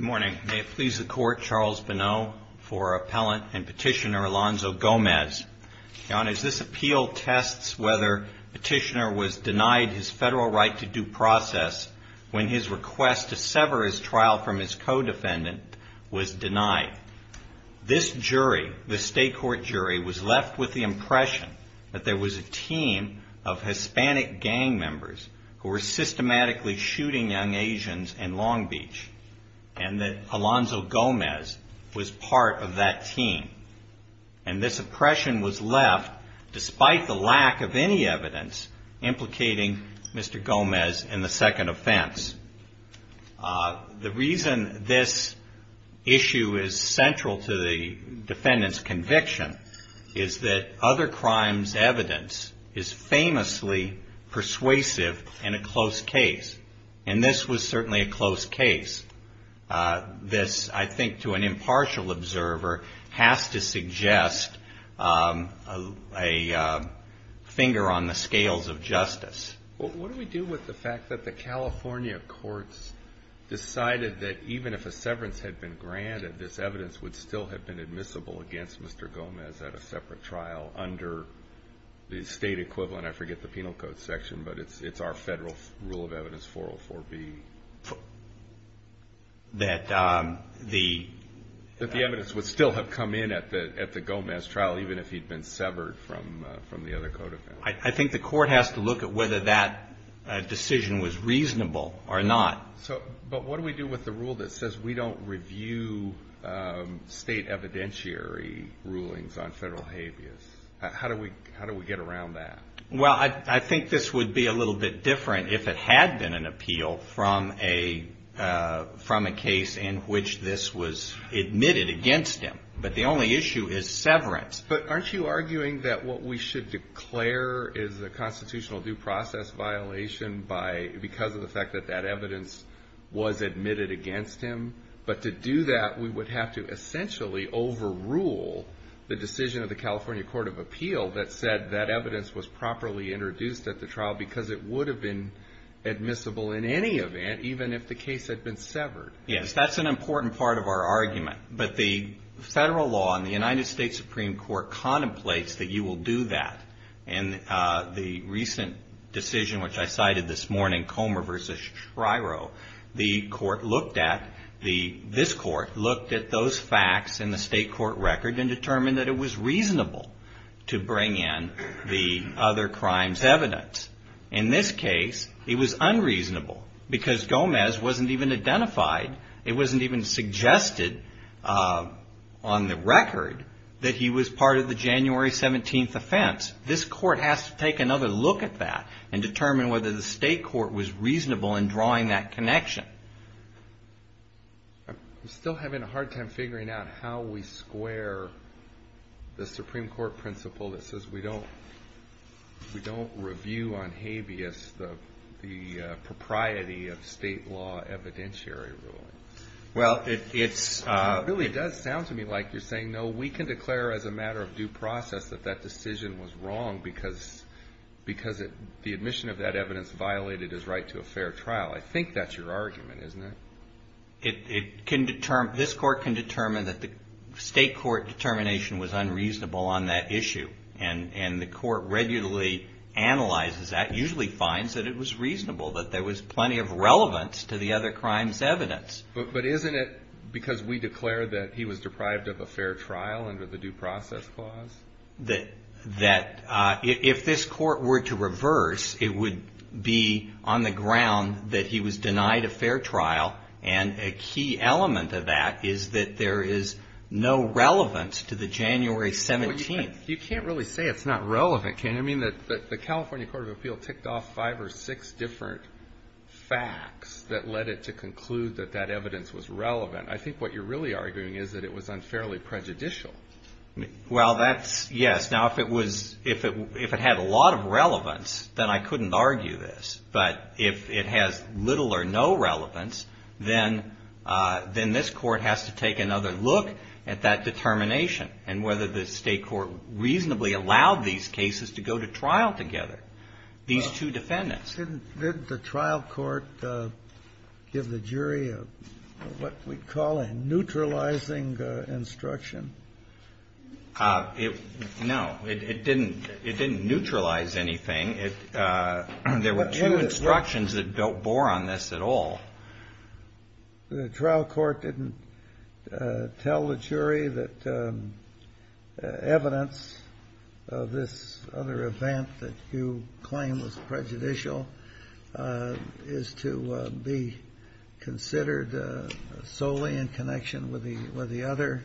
May it please the Court, Charles Bonneau for Appellant and Petitioner Alonzo Gomez. Your Honors, this appeal tests whether Petitioner was denied his federal right to due process when his request to sever his trial from his co-defendant was denied. This jury, the State Court jury, was left with the impression that there was a team of Hispanic gang members who were systematically shooting young Asians in Long Beach and that Alonzo Gomez was part of that team. And this oppression was left, despite the lack of any evidence, implicating Mr. Gomez in the second offense. The reason this issue is central to the defendant's conviction is that other crimes' evidence is famously persuasive and a close case, and this was certainly a close case. This, I think, to an impartial observer, has to suggest a finger on the scales of justice. Well, what do we do with the fact that the California courts decided that even if a severance had been granted, this evidence would still have been admissible against Mr. Gomez at a separate trial under the State equivalent? I forget the penal code section, but it's our federal rule of evidence, 404B. That the evidence would still have come in at the Gomez trial, even if he'd been severed from the other co-defendants. I think the court has to look at whether that decision was reasonable or not. But what do we do with the rule that says we don't review state evidentiary rulings on federal habeas? How do we get around that? Well, I think this would be a little bit different if it had been an appeal from a case in which this was admitted against him. But the only issue is severance. But aren't you arguing that what we should declare is a constitutional due process violation by – because of the fact that that evidence was admitted against him? But to do that, we would have to essentially overrule the decision of the California Court of Appeal that said that evidence was properly introduced at the trial because it would have been admissible in any event, even if the case had been severed. Yes. That's an important part of our argument. But the federal law in the United States Supreme Court contemplates that you will do that. And the recent decision, which I cited this morning, Comer v. Shryo, the court looked at – this court looked at those facts in the state court record and determined that it was reasonable to bring in the other crimes evidence. In this case, it was unreasonable because Gomez wasn't even identified. It wasn't even suggested on the record that he was part of the January 17th offense. This court has to take another look at that and determine whether the state court was reasonable in drawing that connection. I'm still having a hard time figuring out how we square the Supreme Court principle that says we don't review on habeas the propriety of state law evidentiary ruling. It really does sound to me like you're saying, no, we can declare as a matter of due process that that decision was wrong because the admission of that evidence violated his right to a fair trial. I think that's your argument, isn't it? This court can determine that the state court determination was unreasonable on that issue. And the court regularly analyzes that, usually finds that it was reasonable, that there was plenty of relevance to the other crimes evidence. But isn't it because we declared that he was deprived of a fair trial under the due process clause? That if this court were to reverse, it would be on the ground that he was denied a fair trial. And a key element of that is that there is no relevance to the January 17th. You can't really say it's not relevant, can you? I mean, the California Court of Appeal ticked off five or six different facts that led it to conclude that that evidence was relevant. I think what you're really arguing is that it was unfairly prejudicial. Well, yes. Now, if it had a lot of relevance, then I couldn't argue this. But if it has little or no relevance, then this court has to take another look at that determination and whether the state court reasonably allowed these cases to go to trial together, these two defendants. Didn't the trial court give the jury what we'd call a neutralizing instruction? No. It didn't neutralize anything. There were two instructions that don't bore on this at all. The trial court didn't tell the jury that evidence of this other event that you claim was prejudicial is to be considered solely in connection with the other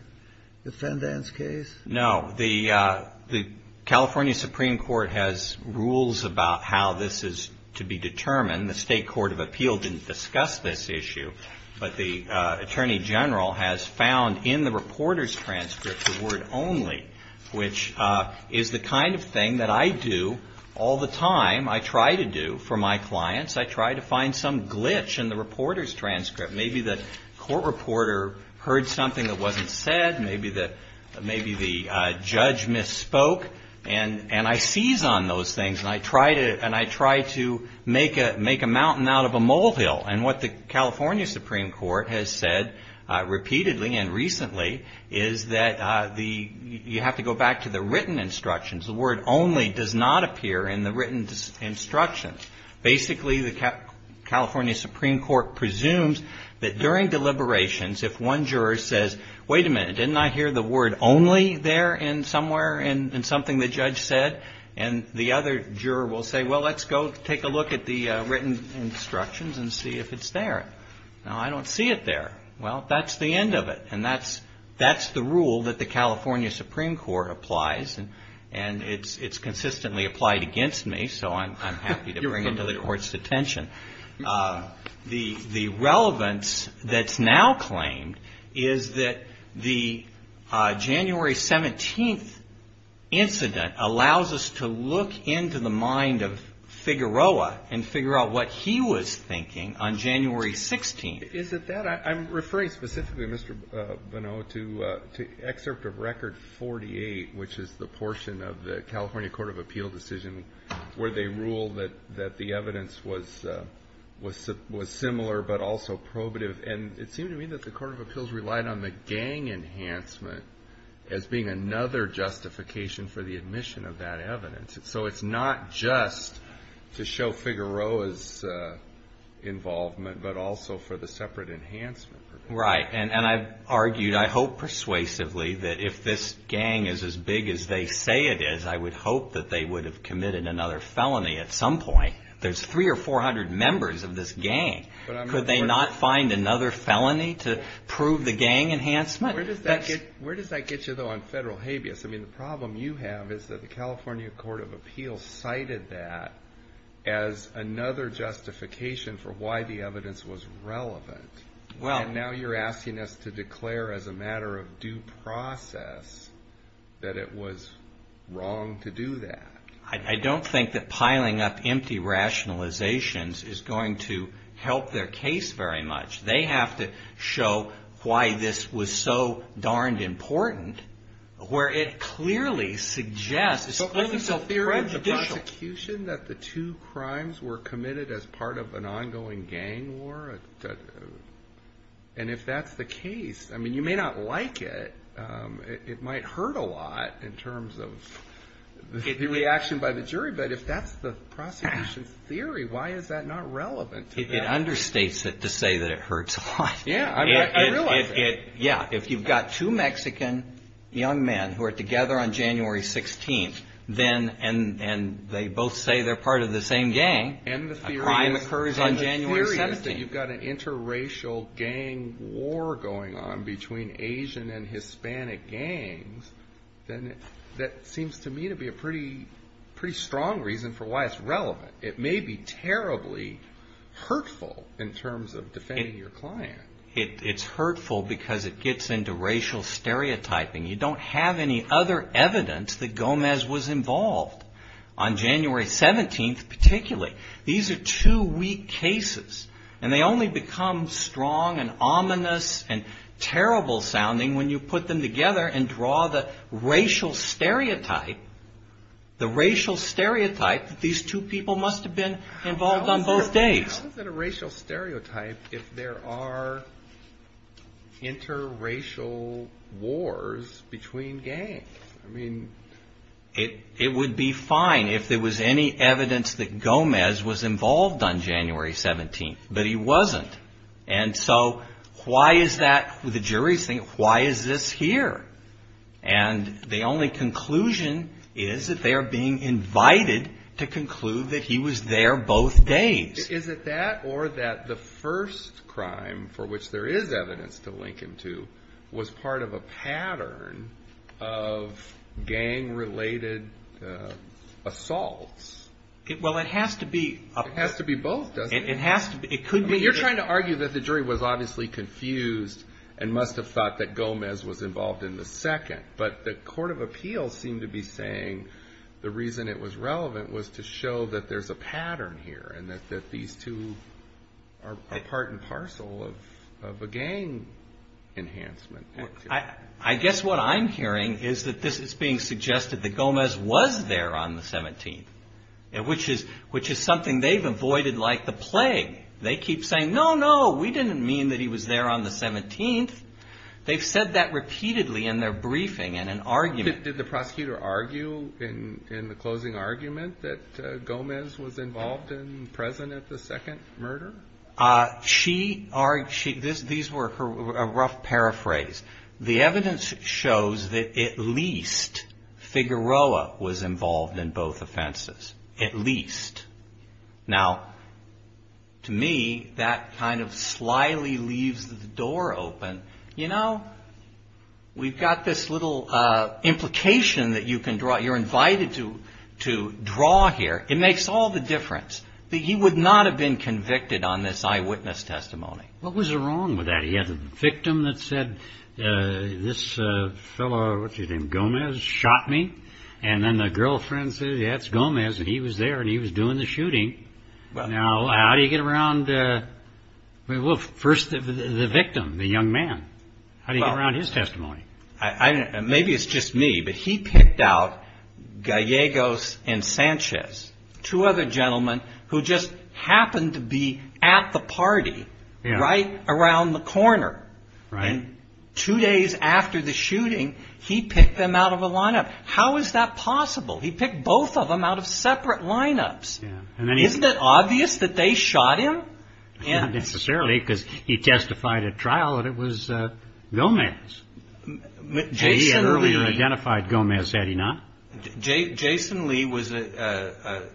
defendants' case? No. The California Supreme Court has rules about how this is to be determined. The state court of appeal didn't discuss this issue. But the attorney general has found in the reporter's transcript the word only, which is the kind of thing that I do all the time. I try to do for my clients. I try to find some glitch in the reporter's transcript. Maybe the court reporter heard something that wasn't said. Maybe the judge misspoke. And I seize on those things. And I try to make a mountain out of a molehill. And what the California Supreme Court has said repeatedly and recently is that you have to go back to the written instructions. The word only does not appear in the written instructions. Basically, the California Supreme Court presumes that during deliberations, if one juror says, wait a minute, didn't I hear the word only there somewhere in something the judge said? And the other juror will say, well, let's go take a look at the written instructions and see if it's there. No, I don't see it there. Well, that's the end of it. And that's the rule that the California Supreme Court applies. And it's consistently applied against me, so I'm happy to bring it to the court's attention. The relevance that's now claimed is that the January 17th incident allows us to look into the mind of Figueroa and figure out what he was thinking on January 16th. Is it that? I'm referring specifically, Mr. Bonneau, to Excerpt of Record 48, which is the portion of the California Court of Appeal decision where they rule that the evidence was similar, but also probative. And it seemed to me that the Court of Appeals relied on the gang enhancement as being another justification for the admission of that evidence. So it's not just to show Figueroa's involvement, but also for the separate enhancement. Right. And I've argued, I hope persuasively, that if this gang is as big as they say it is, I would hope that they would have committed another felony at some point. There's 300 or 400 members of this gang. Could they not find another felony to prove the gang enhancement? Where does that get you, though, on federal habeas? I mean, the problem you have is that the California Court of Appeals cited that as another justification for why the evidence was relevant. Well. And now you're asking us to declare as a matter of due process that it was wrong to do that. I don't think that piling up empty rationalizations is going to help their case very much. They have to show why this was so darned important, where it clearly suggests it's clearly so prejudicial. The prosecution that the two crimes were committed as part of an ongoing gang war, and if that's the case, I mean, you may not like it. It might hurt a lot in terms of the reaction by the jury, but if that's the prosecution's theory, why is that not relevant to that? It understates it to say that it hurts a lot. Yeah. I realize that. Yeah. If you've got two Mexican young men who are together on January 16th, and they both say they're part of the same gang, a crime occurs on January 17th. And the theory is that you've got an interracial gang war going on between Asian and Hispanic gangs, then that seems to me to be a pretty strong reason for why it's relevant. It may be terribly hurtful in terms of defending your client. It's hurtful because it gets into racial stereotyping. You don't have any other evidence that Gomez was involved on January 17th particularly. These are two weak cases, and they only become strong and ominous and terrible sounding when you put them together and draw the racial stereotype, the racial stereotype that these two people must have been involved on both days. How is it a racial stereotype if there are interracial wars between gangs? It would be fine if there was any evidence that Gomez was involved on January 17th, but he wasn't. And so why is that, the jury's thinking, why is this here? And the only conclusion is that they are being invited to conclude that he was there both days. Is it that or that the first crime for which there is evidence to link him to was part of a pattern of gang-related assaults? It has to be both, doesn't it? You're trying to argue that the jury was obviously confused and must have thought that Gomez was involved in the second. But the court of appeals seemed to be saying the reason it was relevant was to show that there's a pattern here and that these two people were involved. I guess what I'm hearing is that this is being suggested that Gomez was there on the 17th, which is something they've avoided like the plague. They keep saying, no, no, we didn't mean that he was there on the 17th. They've said that repeatedly in their briefing in an argument. Did the prosecutor argue in the closing argument that Gomez was involved and present at the second murder? These were a rough paraphrase. The evidence shows that at least Figueroa was involved in both offenses, at least. Now, to me, that kind of slyly leaves the door open. We've got this little implication that you're invited to draw here. It makes all the difference that he would not have been convicted on this eyewitness testimony. What was wrong with that? He had a victim that said, this fellow, what's his name, Gomez, shot me. Then the girlfriend said, that's Gomez, and he was there and he was doing the shooting. Now, how do you get around the victim, the young man? How do you get around his testimony? Maybe it's just me, but he picked out Gallegos and Sanchez, two other gentlemen who just happened to be at the party right around the corner. Two days after the shooting, he picked them out of a lineup. How is that possible? He picked both of them out of separate lineups. Isn't it obvious that they shot him? Not necessarily, because he testified at trial that it was Gomez. He had earlier identified Gomez, had he not? Jason Lee was a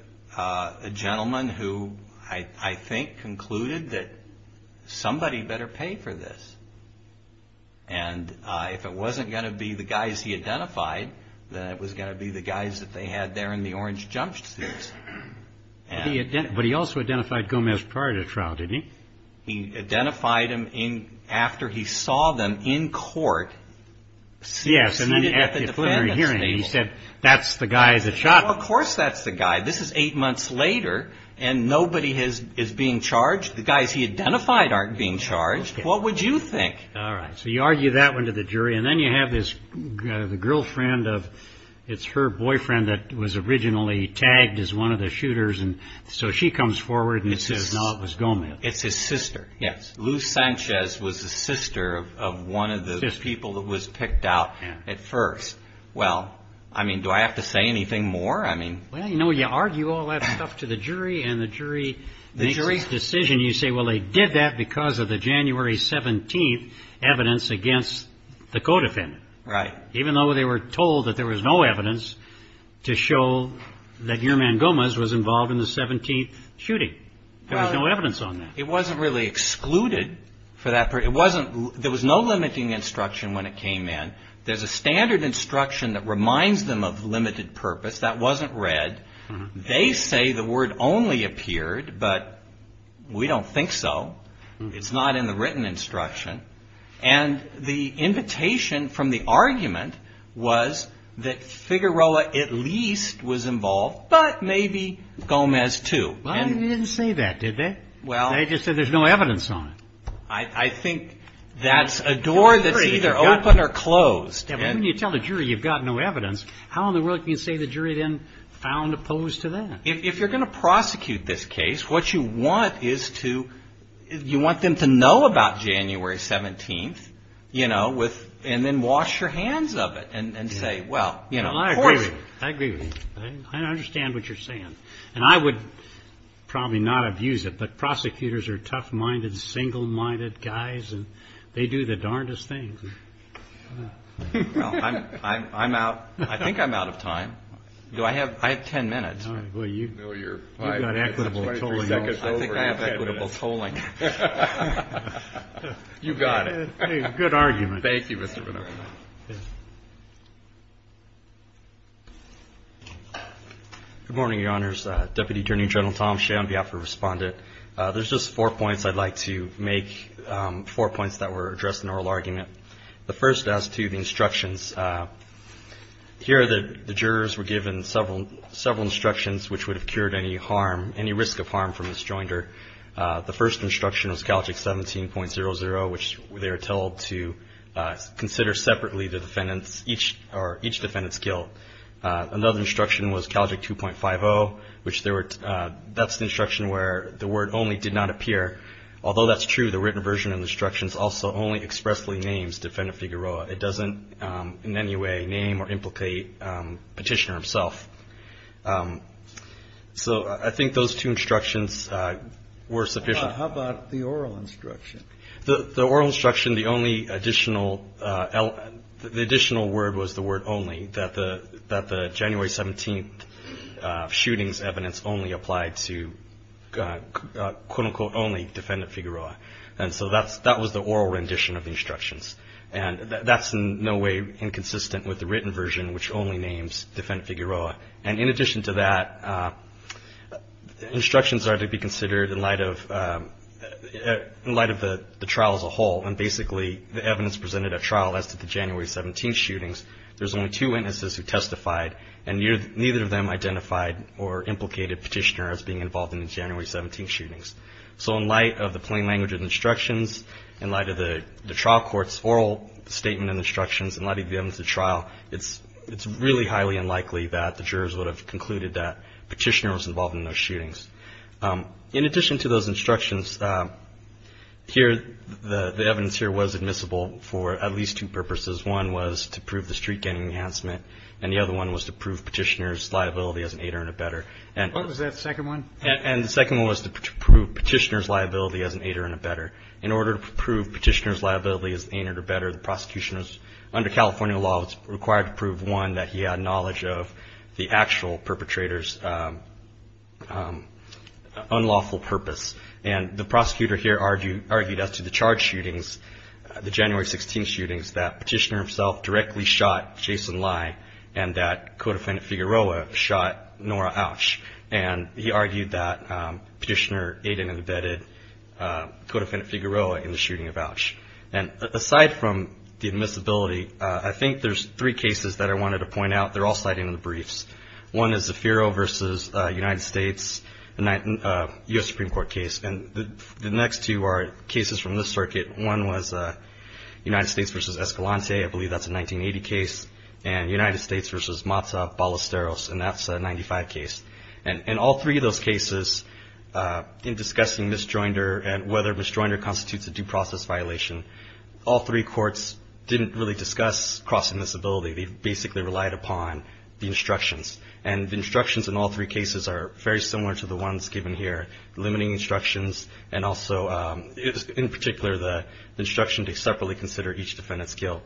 gentleman who I think concluded that somebody better pay for this. And if it wasn't going to be the guys he identified, then it was going to be the guys that they had there in the orange jumpsuits. But he also identified Gomez prior to the trial, didn't he? He identified him after he saw them in court seated at the defendant's table. Yes, and then at the preliminary hearing he said, that's the guy that shot them. Well, of course that's the guy. This is eight months later and nobody is being charged. The guys he identified aren't being charged. What would you think? So you argue that one to the jury and then you have the girlfriend, it's her boyfriend that was originally tagged as one of the shooters. So she comes forward and says, no, it was Gomez. It's his sister. Lou Sanchez was the sister of one of the people that was picked out at first. Well, I mean, do I have to say anything more? Well, you know, you argue all that stuff to the jury and the jury's decision. You say, well, they did that because of the January 17th evidence against the co-defendant. Even though they were told that there was no evidence to show that your man Gomez was involved in the 17th shooting. There was no evidence on that. It wasn't really excluded for that. There was no limiting instruction when it came in. There's a standard instruction that reminds them of limited purpose that wasn't read. They say the word only appeared, but we don't think so. It's not in the written instruction. And the invitation from the argument was that Figueroa at least was involved, but maybe Gomez too. Well, they didn't say that, did they? They just said there's no evidence on it. I think that's a door that's either open or closed. Well, when you tell the jury you've got no evidence, how in the world can you say the jury then found opposed to that? If you're going to prosecute this case, what you want is to you want them to know about January 17th, you know, and then wash your hands of it and say, well, you know. I agree. I understand what you're saying. And I would probably not abuse it, but prosecutors are tough-minded, single-minded guys, and they do the darndest things. Well, I'm out. I think I'm out of time. I have 10 minutes. I think I have equitable tolling. You've got it. Good argument. Thank you, Mr. Bonnero. Good morning, Your Honors. Deputy Attorney General Tom Shea on behalf of the Respondent. There's just four points I'd like to make, four points that were addressed in the oral argument. The first as to the instructions, here the jurors were given several instructions which would have cured any harm, any risk of harm from this joinder. The first instruction was CALJIC 17.00, which they were told to consider separately the defendants, each defendant's guilt. Another instruction was CALJIC 2.50, which that's the instruction where the word only did not appear. Although that's true, the written version of the instructions also only expressly names Defendant Figueroa. It doesn't in any way name or implicate Petitioner himself. So I think those two instructions were sufficient. How about the oral instruction? The oral instruction, the only additional word was the word only, that the January 17th shooting's evidence only applied to, quote unquote, only Defendant Figueroa. And so that was the oral rendition of the instructions. And that's in no way inconsistent with the written version, which only names Defendant Figueroa. And in addition to that, instructions are to be considered in light of the trial as a whole, and basically the evidence presented at trial as to the January 17th shootings, there's only two witnesses who testified, and neither of them identified or implicated Petitioner as being involved in the January 17th shootings. So in addition to the oral statement and instructions in light of the evidence at trial, it's really highly unlikely that the jurors would have concluded that Petitioner was involved in those shootings. In addition to those instructions, here, the evidence here was admissible for at least two purposes. One was to prove the street gang enhancement, and the other one was to prove Petitioner's liability as an aider and abetter. And the second one was to prove Petitioner's liability as an aider and abetter. In order to prove Petitioner's liability as an aider and abetter, the prosecution was, under California law, was required to prove, one, that he had knowledge of the actual perpetrator's unlawful purpose. And the prosecutor here argued as to the charge shootings, the January 16th shootings, that Petitioner himself directly shot Jason Lye, and that Codefendant Figueroa shot Nora Auch. And he argued that Petitioner aided and abetted Codefendant Figueroa in the shooting of Auch. And aside from the admissibility, I think there's three cases that I wanted to point out. They're all cited in the briefs. One is Zaffiro v. United States, a U.S. Supreme Court case. And the next two are cases from this circuit. One was United States v. Escalante. I believe that's a 1980 case. And United States v. Mazza Ballesteros, and that's a 1995 case. And all three of those cases, in discussing misjoinder and whether misjoinder constitutes a due process violation, all three courts didn't really discuss cross-admissibility. They basically relied upon the instructions. And the instructions in all three cases are very similar to the ones given here, limiting instructions, and also, in particular, the instruction to separately consider each defendant's guilt.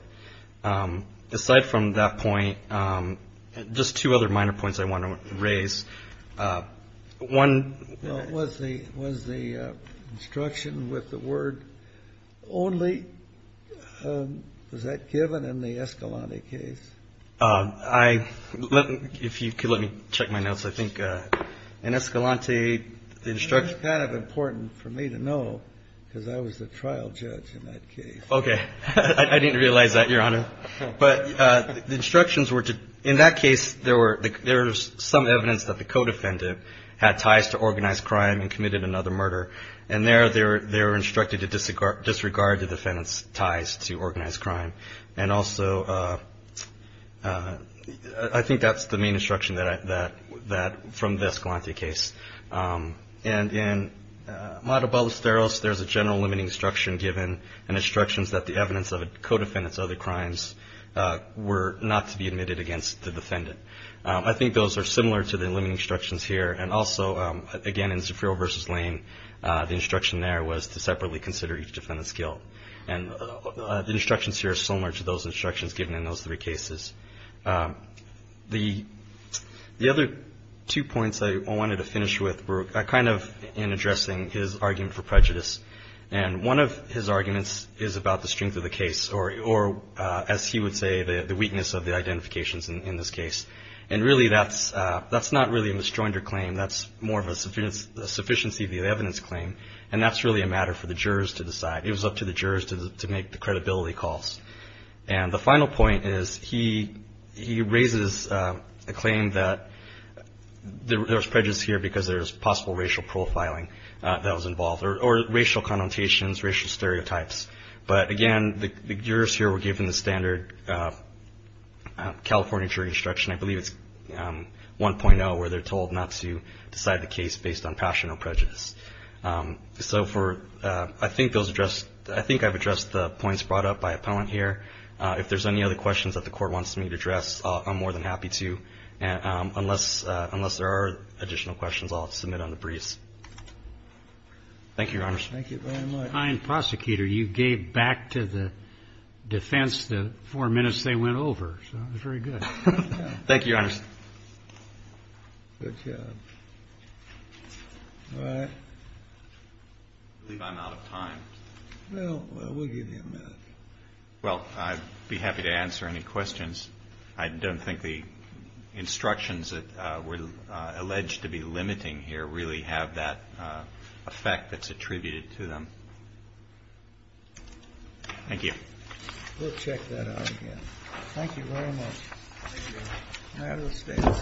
Aside from that point, just two other minor points I want to raise. One was the instruction with the word only. Was that given in the Escalante case? If you could let me check my notes, I think in Escalante the instruction was kind of important for me to know, because I was the trial judge in that case. Okay. I didn't realize that, Your Honor. But the instructions were to, in that case, there was some evidence that the co-defendant had ties to organized crime and committed another murder. And there they were instructed to disregard the defendant's ties to organized crime. And also, I think that's the main instruction from the Escalante case. And in Mado Ballesteros, there's a general limiting instruction given, and instructions that the evidence of a co-defendant's other crimes were not to be admitted against the defendant. I think those are similar to the limiting instructions here. And also, again, in Zafiro v. Lane, the instruction there was to separately consider each defendant's guilt. And the instructions here are similar to those instructions given in those three cases. The other two points I wanted to finish with were kind of in addressing his argument for prejudice. And one of his arguments is about the strength of the case, or as he would say, the weakness of the identifications in this case. And really, that's not really a misjoinder claim. That's more of a sufficiency of the evidence claim, and that's really a matter for the jurors to decide. It was up to the jurors to make the credibility calls. And the final point is he raises a claim that there was prejudice here because there was possible racial profiling that was involved, or racial connotations, racial stereotypes. But again, the jurors here were given the standard California jury instruction. I believe it's 1.0, where they're told not to decide the case based on passion or prejudice. So I think those address, I think I've addressed the points brought up by Appellant here. If there's any other questions that the Court wants me to address, I'm more than happy to. Unless there are additional questions, I'll submit on the briefs. Thank you, Your Honors. Thank you very much. A kind prosecutor, you gave back to the defense the four minutes they went over, so that's very good. Thank you, Your Honors. Good job. All right. I believe I'm out of time. Well, we'll give you a minute. Well, I'd be happy to answer any questions. I don't think the instructions that were alleged to be limiting here really have that effect that's attributed to them. Thank you. We'll check that out again. Thank you very much. Thank you. That is being submitted.